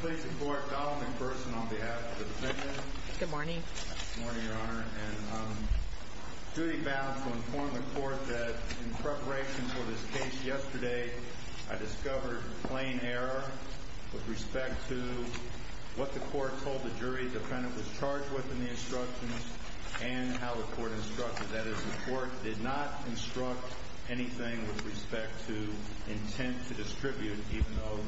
Please support Donald McPherson on behalf of the defendant. Good morning. Good morning, Your Honor, and I'm duty bound to inform the court that in preparation for this case yesterday, I discovered plain error with respect to what the court told the jury the defendant was charged with in the instructions and how the court instructed. That is, the court did not instruct anything with respect to intent to distribute, even though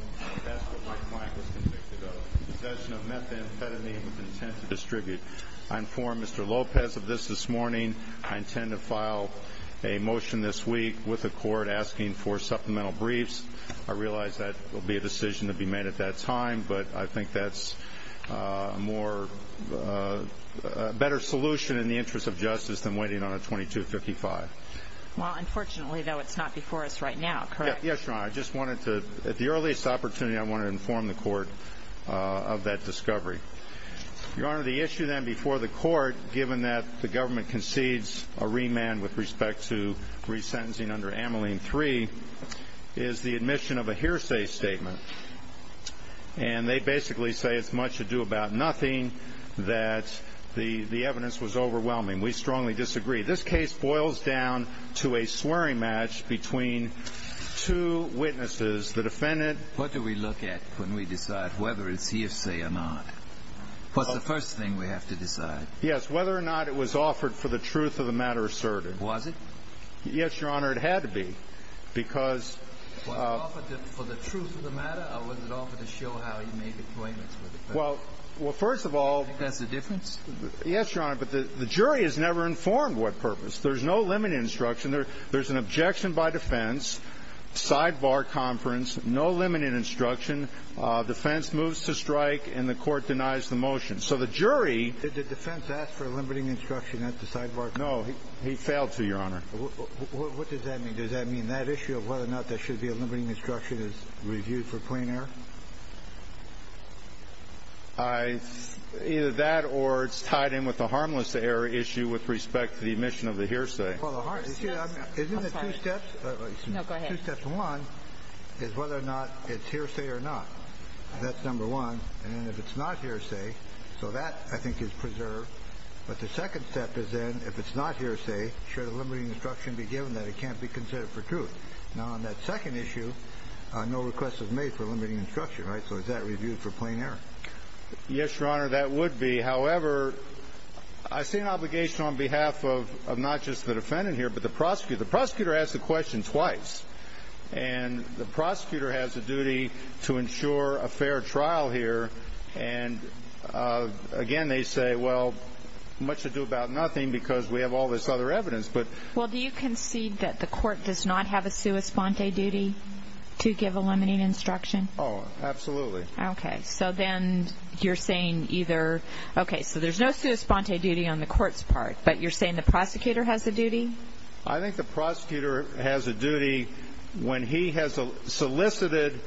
that's what my client was convicted of, possession of methamphetamine with intent to distribute. I inform Mr. Lopez of this this morning. I intend to file a motion this week with the court asking for supplemental briefs. I realize that will be a decision to be made at that time, but I think that's a better solution in the interest of justice than waiting on a 2255. Well, unfortunately, though, it's not before us right now, correct? Yes, Your Honor. At the earliest opportunity, I want to inform the court of that discovery. Your Honor, the issue then before the court, given that the government concedes a remand with respect to resentencing under Ameline three is the admission of a hearsay statement. And they basically say it's much to do about nothing that the evidence was overwhelming. We strongly disagree. This case boils down to a swearing match between two witnesses. What do we look at when we decide whether it's hearsay or not? What's the first thing we have to decide? Yes, whether or not it was offered for the truth of the matter asserted. Was it? Yes, Your Honor, it had to be because. Was it offered for the truth of the matter or was it offered to show how he made appointments with the defendant? Well, first of all. That's the difference? Yes, Your Honor, but the jury has never informed what purpose. There's no limited instruction. There's an objection by defense sidebar conference. No limited instruction. Defense moves to strike and the court denies the motion. So the jury. Did the defense ask for a limiting instruction at the sidebar? No, he failed to, Your Honor. What does that mean? Does that mean that issue of whether or not there should be a limiting instruction is reviewed for plain error? I either that or it's tied in with the harmless error issue with respect to the admission of the hearsay. Isn't it two steps? No, go ahead. Two steps. One is whether or not it's hearsay or not. That's number one. And if it's not hearsay, so that, I think, is preserved. But the second step is then if it's not hearsay, should a limiting instruction be given that it can't be considered for truth? Now, on that second issue, no request was made for limiting instruction, right? So is that reviewed for plain error? Yes, Your Honor, that would be. However, I see an obligation on behalf of not just the defendant here but the prosecutor. The prosecutor asked the question twice. And the prosecutor has a duty to ensure a fair trial here. And, again, they say, well, much to do about nothing because we have all this other evidence. Well, do you concede that the court does not have a sua sponte duty to give a limiting instruction? Oh, absolutely. Okay. So then you're saying either, okay, so there's no sua sponte duty on the court's part, but you're saying the prosecutor has a duty? I think the prosecutor has a duty when he has solicited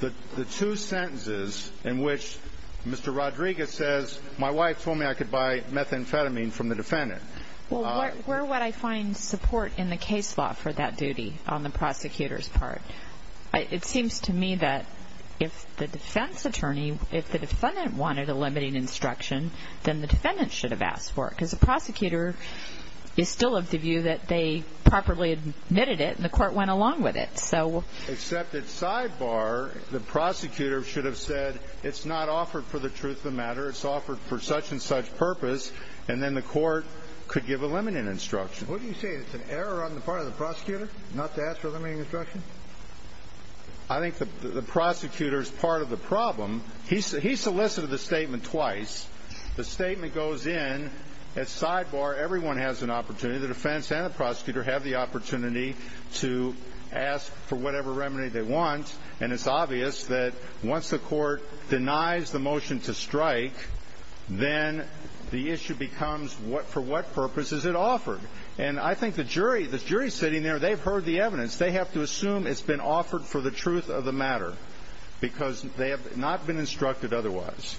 the two sentences in which Mr. Rodriguez says, my wife told me I could buy methamphetamine from the defendant. Well, where would I find support in the case law for that duty on the prosecutor's part? It seems to me that if the defense attorney, if the defendant wanted a limiting instruction, then the defendant should have asked for it because the prosecutor is still of the view that they properly admitted it and the court went along with it. Except that sidebar, the prosecutor should have said it's not offered for the truth of the matter, it's offered for such and such purpose, and then the court could give a limiting instruction. What are you saying, it's an error on the part of the prosecutor not to ask for a limiting instruction? I think the prosecutor's part of the problem. He solicited the statement twice. The statement goes in, it's sidebar, everyone has an opportunity, the defense and the prosecutor have the opportunity to ask for whatever remedy they want, and it's obvious that once the court denies the motion to strike, then the issue becomes for what purpose is it offered? And I think the jury, the jury sitting there, they've heard the evidence. They have to assume it's been offered for the truth of the matter because they have not been instructed otherwise.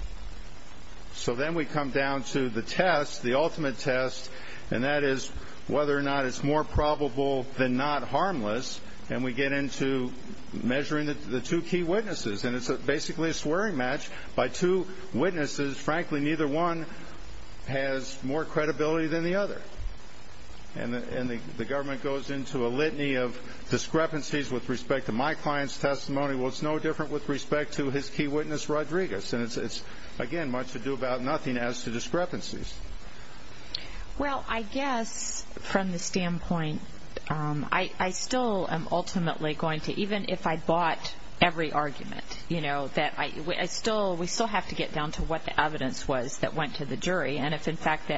So then we come down to the test, the ultimate test, and that is whether or not it's more probable than not harmless, and we get into measuring the two key witnesses, and it's basically a swearing match by two witnesses. Frankly, neither one has more credibility than the other, and the government goes into a litany of discrepancies with respect to my client's testimony. Well, it's no different with respect to his key witness, Rodriguez, and it's, again, much ado about nothing as to discrepancies. Well, I guess from the standpoint, I still am ultimately going to, even if I bought every argument, that we still have to get down to what the evidence was that went to the jury, and if, in fact,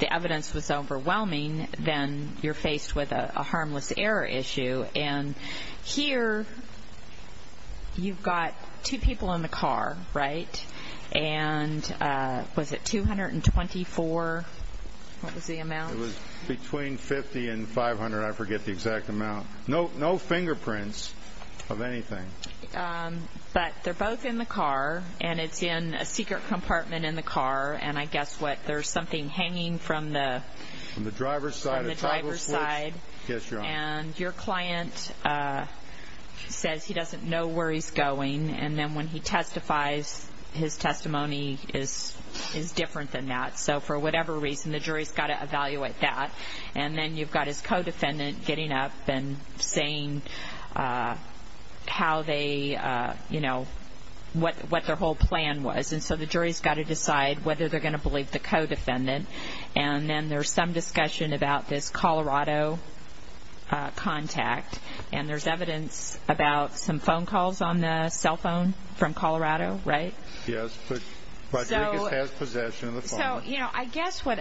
the evidence was overwhelming, then you're faced with a harmless error issue, and here you've got two people in the car, right? And was it 224? What was the amount? It was between 50 and 500. I forget the exact amount. No fingerprints of anything. But they're both in the car, and it's in a secret compartment in the car, and I guess what, there's something hanging from the driver's side, and your client says he doesn't know where he's going, and then when he testifies, his testimony is different than that, so for whatever reason, the jury's got to evaluate that, and then you've got his co-defendant getting up and saying how they, you know, what their whole plan was, and so the jury's got to decide whether they're going to believe the co-defendant, and then there's some discussion about this Colorado contact, and there's evidence about some phone calls on the cell phone from Colorado, right? Yes, but Rodriguez has possession of the phone. So, you know, I guess what,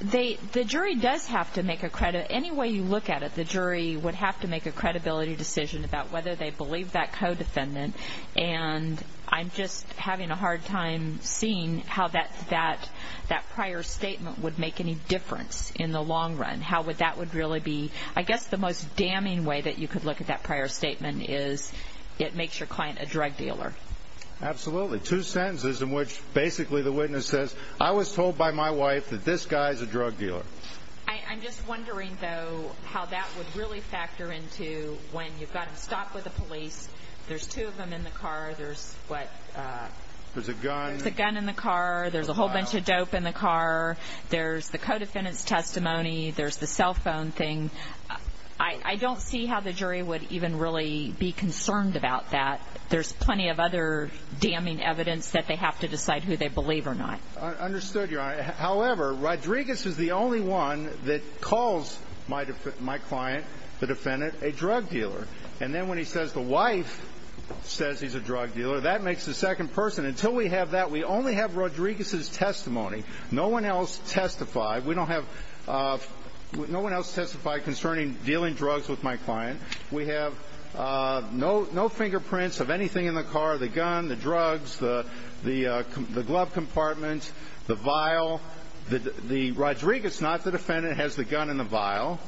the jury does have to make a, any way you look at it, the jury would have to make a credibility decision about whether they believe that co-defendant, and I'm just having a hard time seeing how that prior statement would make any difference in the long run. How would that really be? I guess the most damning way that you could look at that prior statement is it makes your client a drug dealer. Absolutely. Two sentences in which basically the witness says, I was told by my wife that this guy's a drug dealer. I'm just wondering, though, how that would really factor into when you've got to stop with the police, there's two of them in the car, there's what? There's a gun. There's a gun in the car, there's a whole bunch of dope in the car, there's the co-defendant's testimony, there's the cell phone thing. I don't see how the jury would even really be concerned about that. There's plenty of other damning evidence that they have to decide who they believe or not. Understood, Your Honor. However, Rodriguez is the only one that calls my client, the defendant, a drug dealer. And then when he says the wife says he's a drug dealer, that makes the second person. Until we have that, we only have Rodriguez's testimony. No one else testified. We don't have no one else testify concerning dealing drugs with my client. We have no fingerprints of anything in the car, the gun, the drugs, the glove compartment, the vial. The Rodriguez, not the defendant, has the gun in the vial.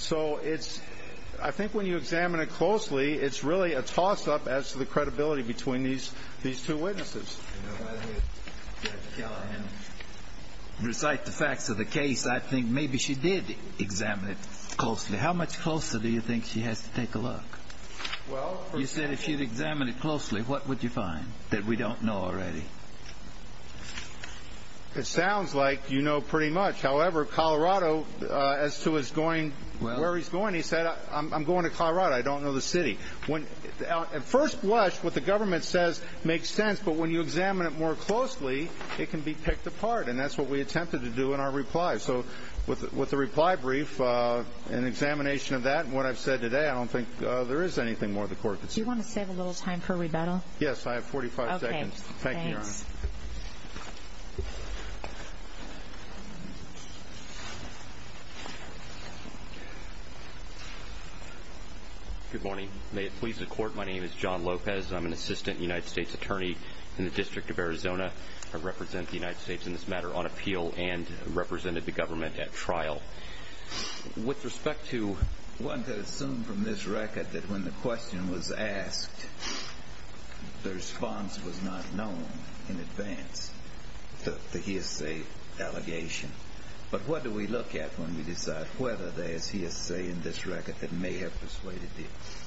So I think when you examine it closely, it's really a toss-up as to the credibility between these two witnesses. You know, rather than recite the facts of the case, I think maybe she did examine it closely. How much closer do you think she has to take a look? You said if she'd examined it closely, what would you find that we don't know already? It sounds like you know pretty much. However, Colorado, as to where he's going, he said, I'm going to Colorado. I don't know the city. At first blush, what the government says makes sense. But when you examine it more closely, it can be picked apart. And that's what we attempted to do in our reply. So with the reply brief and examination of that and what I've said today, I don't think there is anything more the court could say. Do you want to save a little time for rebuttal? Okay, thanks. Thank you, Your Honor. Thank you. Good morning. May it please the Court, my name is John Lopez. I'm an assistant United States attorney in the District of Arizona. I represent the United States in this matter on appeal and represented the government at trial. With respect to... One could assume from this record that when the question was asked, the response was not known in advance, the hearsay allegation. But what do we look at when we decide whether there is hearsay in this record that may have persuaded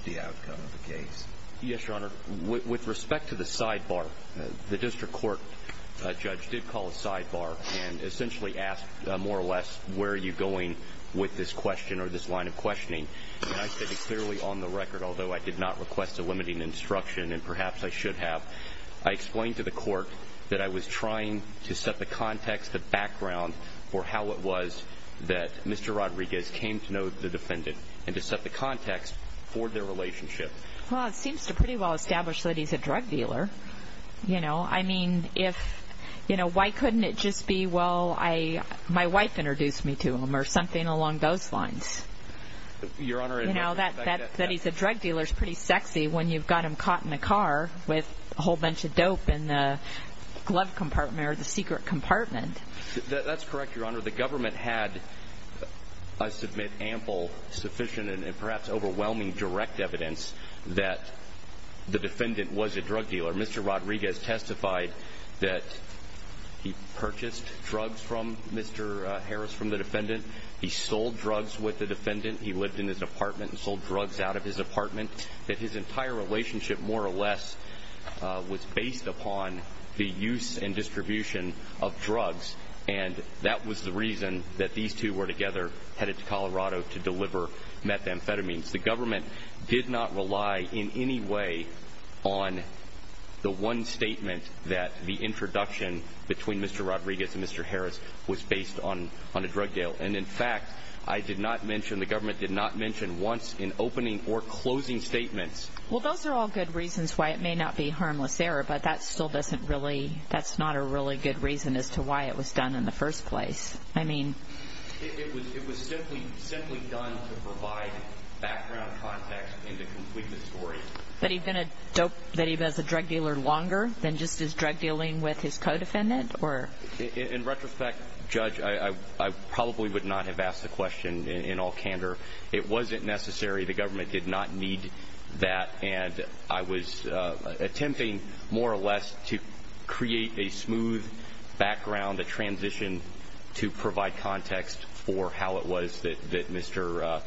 the outcome of the case? Yes, Your Honor. With respect to the sidebar, the district court judge did call a sidebar and essentially asked more or less, where are you going with this question or this line of questioning? And I stated clearly on the record, although I did not request a limiting instruction and perhaps I should have, I explained to the court that I was trying to set the context, the background for how it was that Mr. Rodriguez came to know the defendant and to set the context for their relationship. Well, it seems to pretty well establish that he's a drug dealer. I mean, why couldn't it just be, well, my wife introduced me to him or something along those lines? Your Honor... That he's a drug dealer is pretty sexy when you've got him caught in a car with a whole bunch of dope in the glove compartment or the secret compartment. That's correct, Your Honor. Your Honor, the government had, I submit, ample, sufficient, and perhaps overwhelming direct evidence that the defendant was a drug dealer. Mr. Rodriguez testified that he purchased drugs from Mr. Harris, from the defendant. He sold drugs with the defendant. He lived in his apartment and sold drugs out of his apartment. His entire relationship, more or less, was based upon the use and distribution of drugs, and that was the reason that these two were together headed to Colorado to deliver methamphetamines. The government did not rely in any way on the one statement that the introduction between Mr. Rodriguez and Mr. Harris was based on a drug deal. And, in fact, I did not mention, the government did not mention once in opening or closing statements. Well, those are all good reasons why it may not be harmless error, but that still doesn't really, that's not a really good reason as to why it was done in the first place. I mean... It was simply done to provide background context and to complete the story. But he'd been a dope, that he was a drug dealer longer than just his drug dealing with his co-defendant? In retrospect, Judge, I probably would not have asked the question in all candor. It wasn't necessary. The government did not need that, and I was attempting, more or less, to create a smooth background, a transition to provide context for how it was that Mr.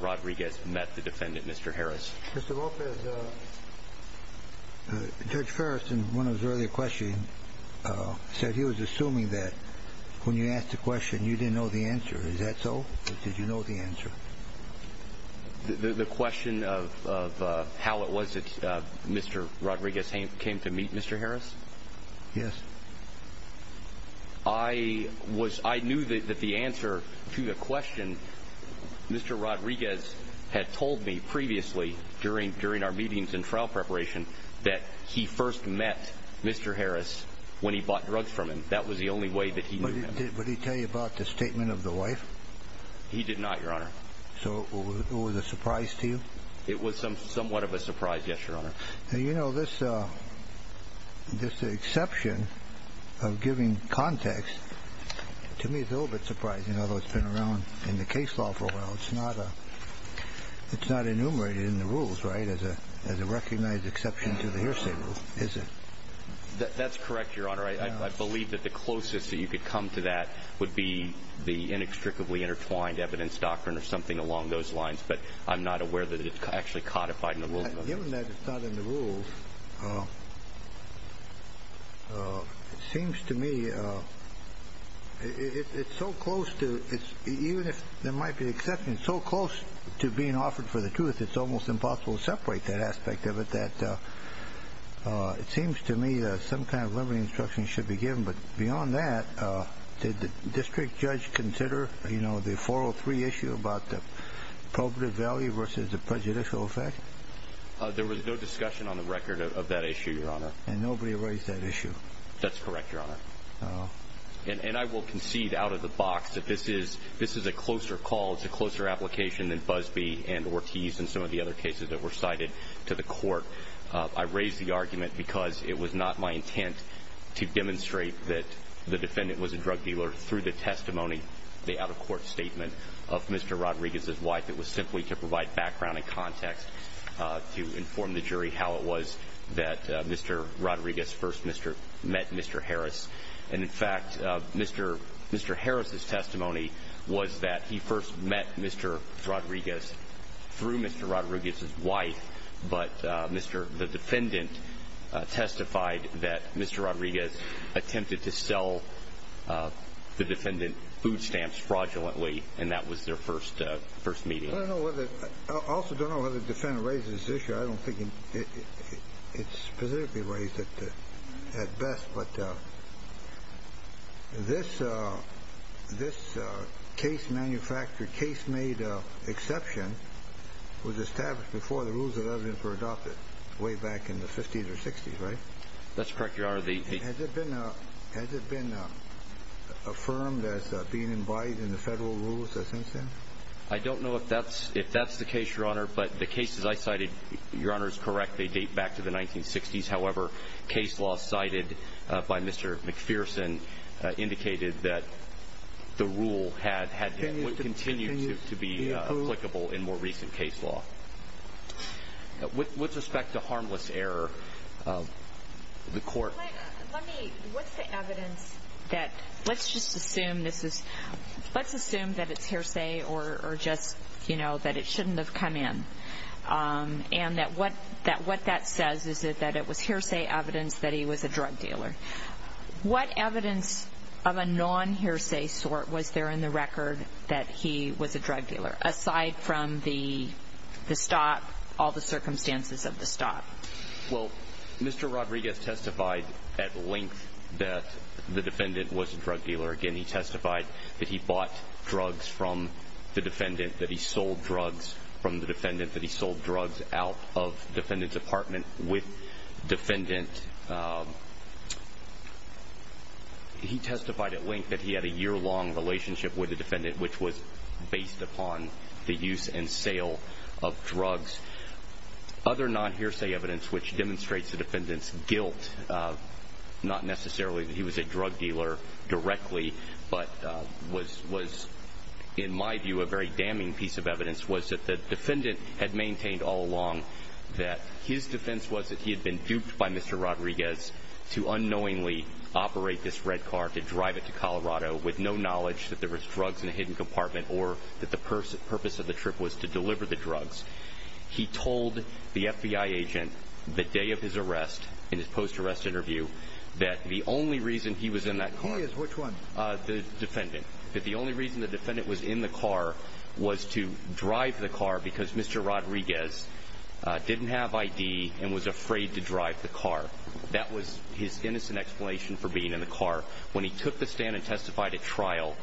Rodriguez met the defendant, Mr. Harris. Mr. Lopez, Judge Ferris, in one of his earlier questions, said he was assuming that when you asked the question, you didn't know the answer. Is that so, or did you know the answer? The question of how it was that Mr. Rodriguez came to meet Mr. Harris? Yes. I knew that the answer to the question, Mr. Rodriguez had told me previously, during our meetings and trial preparation, that he first met Mr. Harris when he bought drugs from him. That was the only way that he knew him. Did he tell you about the statement of the wife? He did not, Your Honor. So it was a surprise to you? It was somewhat of a surprise, yes, Your Honor. You know, this exception of giving context to me is a little bit surprising, although it's been around in the case law for a while. It's not enumerated in the rules, right, as a recognized exception to the hearsay rule, is it? That's correct, Your Honor. I believe that the closest that you could come to that would be the inextricably intertwined evidence doctrine or something along those lines, but I'm not aware that it's actually codified in the rules. Given that it's not in the rules, it seems to me it's so close to, even if there might be an exception, it's so close to being offered for the truth, it's almost impossible to separate that aspect of it that it seems to me that some kind of liberty instruction should be given. But beyond that, did the district judge consider, you know, the 403 issue about the probative value versus the prejudicial effect? There was no discussion on the record of that issue, Your Honor. And nobody raised that issue? That's correct, Your Honor. And I will concede out of the box that this is a closer call, it's a closer application than Busbee and Ortiz and some of the other cases that were cited to the court. I raised the argument because it was not my intent to demonstrate that the defendant was a drug dealer. Through the testimony, the out-of-court statement of Mr. Rodriguez's wife, it was simply to provide background and context to inform the jury how it was that Mr. Rodriguez first met Mr. Harris. And, in fact, Mr. Harris's testimony was that he first met Mr. Rodriguez through Mr. Rodriguez's wife, but the defendant testified that Mr. Rodriguez attempted to sell the defendant food stamps fraudulently, and that was their first meeting. I also don't know whether the defendant raised this issue. I don't think it's specifically raised at best. But this case manufactured, case made exception was established before the rules of evidence were adopted, way back in the 50s or 60s, right? That's correct, Your Honor. Has it been affirmed as being embodied in the federal rules since then? I don't know if that's the case, Your Honor, but the cases I cited, Your Honor, is correct. They date back to the 1960s. However, case law cited by Mr. McPherson indicated that the rule would continue to be applicable in more recent case law. With respect to harmless error, the court- Let me, what's the evidence that, let's just assume this is, let's assume that it's hearsay or just, you know, that it shouldn't have come in, and that what that says is that it was hearsay evidence that he was a drug dealer. What evidence of a non-hearsay sort was there in the record that he was a drug dealer, aside from the stop, all the circumstances of the stop? Well, Mr. Rodriguez testified at length that the defendant was a drug dealer. Again, he testified that he bought drugs from the defendant, that he sold drugs from the defendant, that he sold drugs out of the defendant's apartment with the defendant. He testified at length that he had a year-long relationship with the defendant, which was based upon the use and sale of drugs. Other non-hearsay evidence which demonstrates the defendant's guilt, not necessarily that he was a drug dealer directly, but was, in my view, a very damning piece of evidence, was that the defendant had maintained all along that his defense was that he had been duped by Mr. Rodriguez to unknowingly operate this red car, to drive it to Colorado, with no knowledge that there was drugs in a hidden compartment or that the purpose of the trip was to deliver the drugs. He told the FBI agent the day of his arrest, in his post-arrest interview, that the only reason he was in that car... He is which one? The defendant. That the only reason the defendant was in the car was to drive the car because Mr. Rodriguez didn't have ID and was afraid to drive the car. That was his innocent explanation for being in the car. When he took the stand and testified at trial,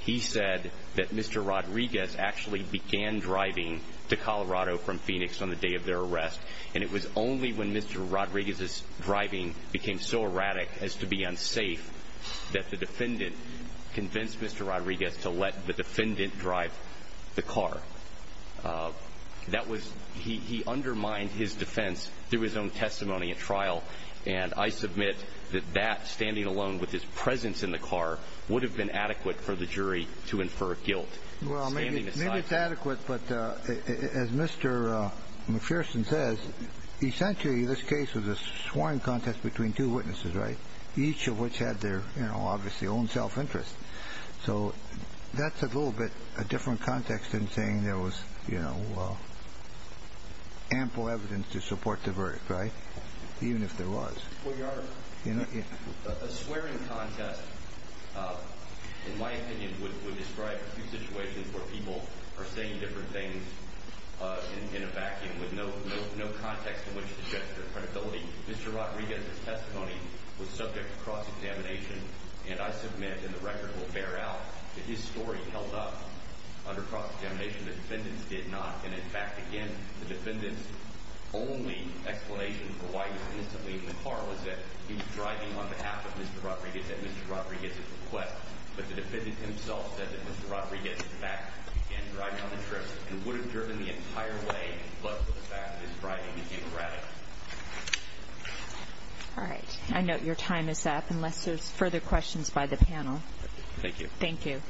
he said that Mr. Rodriguez actually began driving to Colorado from Phoenix on the day of their arrest, and it was only when Mr. Rodriguez's driving became so erratic as to be unsafe that the defendant convinced Mr. Rodriguez to let the defendant drive the car. That was... He undermined his defense through his own testimony at trial, and I submit that that, standing alone with his presence in the car, would have been adequate for the jury to infer guilt. Well, maybe it's adequate, but as Mr. McPherson says, essentially this case was a sworn contest between two witnesses, right? Each of which had their, you know, obviously own self-interest. So that's a little bit a different context than saying there was, you know, ample evidence to support the verdict, right? Even if there was. Well, Your Honor, a swearing contest, in my opinion, would describe a few situations where people are saying different things in a vacuum with no context in which to judge their credibility. Mr. Rodriguez's testimony was subject to cross-examination, and I submit, and the record will bear out, that his story held up under cross-examination. The defendant's did not, and in fact, again, the defendant's only explanation for why he was instantly in the car was that he was driving on behalf of Mr. Rodriguez at Mr. Rodriguez's request. But the defendant himself said that Mr. Rodriguez, in fact, began driving on the trip and would have driven the entire way, but for the fact that he was driving, he came around it. All right. I note your time is up, unless there's further questions by the panel. Thank you. Thank you.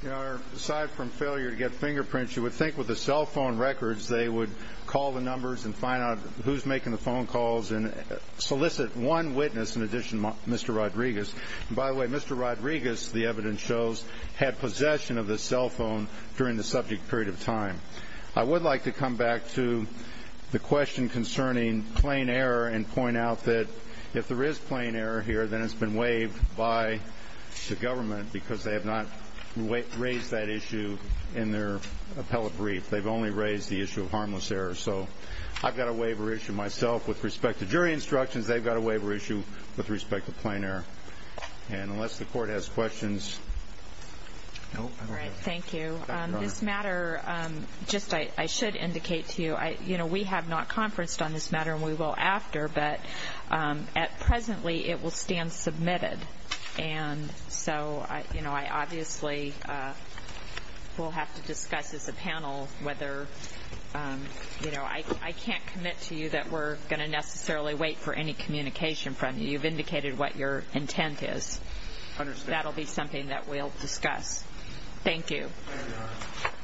Your Honor, aside from failure to get fingerprints, you would think with the cell phone records they would call the numbers and find out who's making the phone calls and solicit one witness in addition to Mr. Rodriguez. And by the way, Mr. Rodriguez, the evidence shows, had possession of the cell phone during the subject period of time. I would like to come back to the question concerning plain error and point out that if there is plain error here, then it's been waived by the government because they have not raised that issue in their appellate brief. They've only raised the issue of harmless error. So I've got a waiver issue myself. With respect to jury instructions, they've got a waiver issue with respect to plain error. And unless the Court has questions. All right. Thank you. This matter, just I should indicate to you, you know, we have not conferenced on this matter and we will after. But at presently, it will stand submitted. And so, you know, I obviously will have to discuss as a panel whether, you know, I can't commit to you that we're going to necessarily wait for any communication from you. You've indicated what your intent is. Understood. That will be something that we'll discuss. Thank you. Thank you.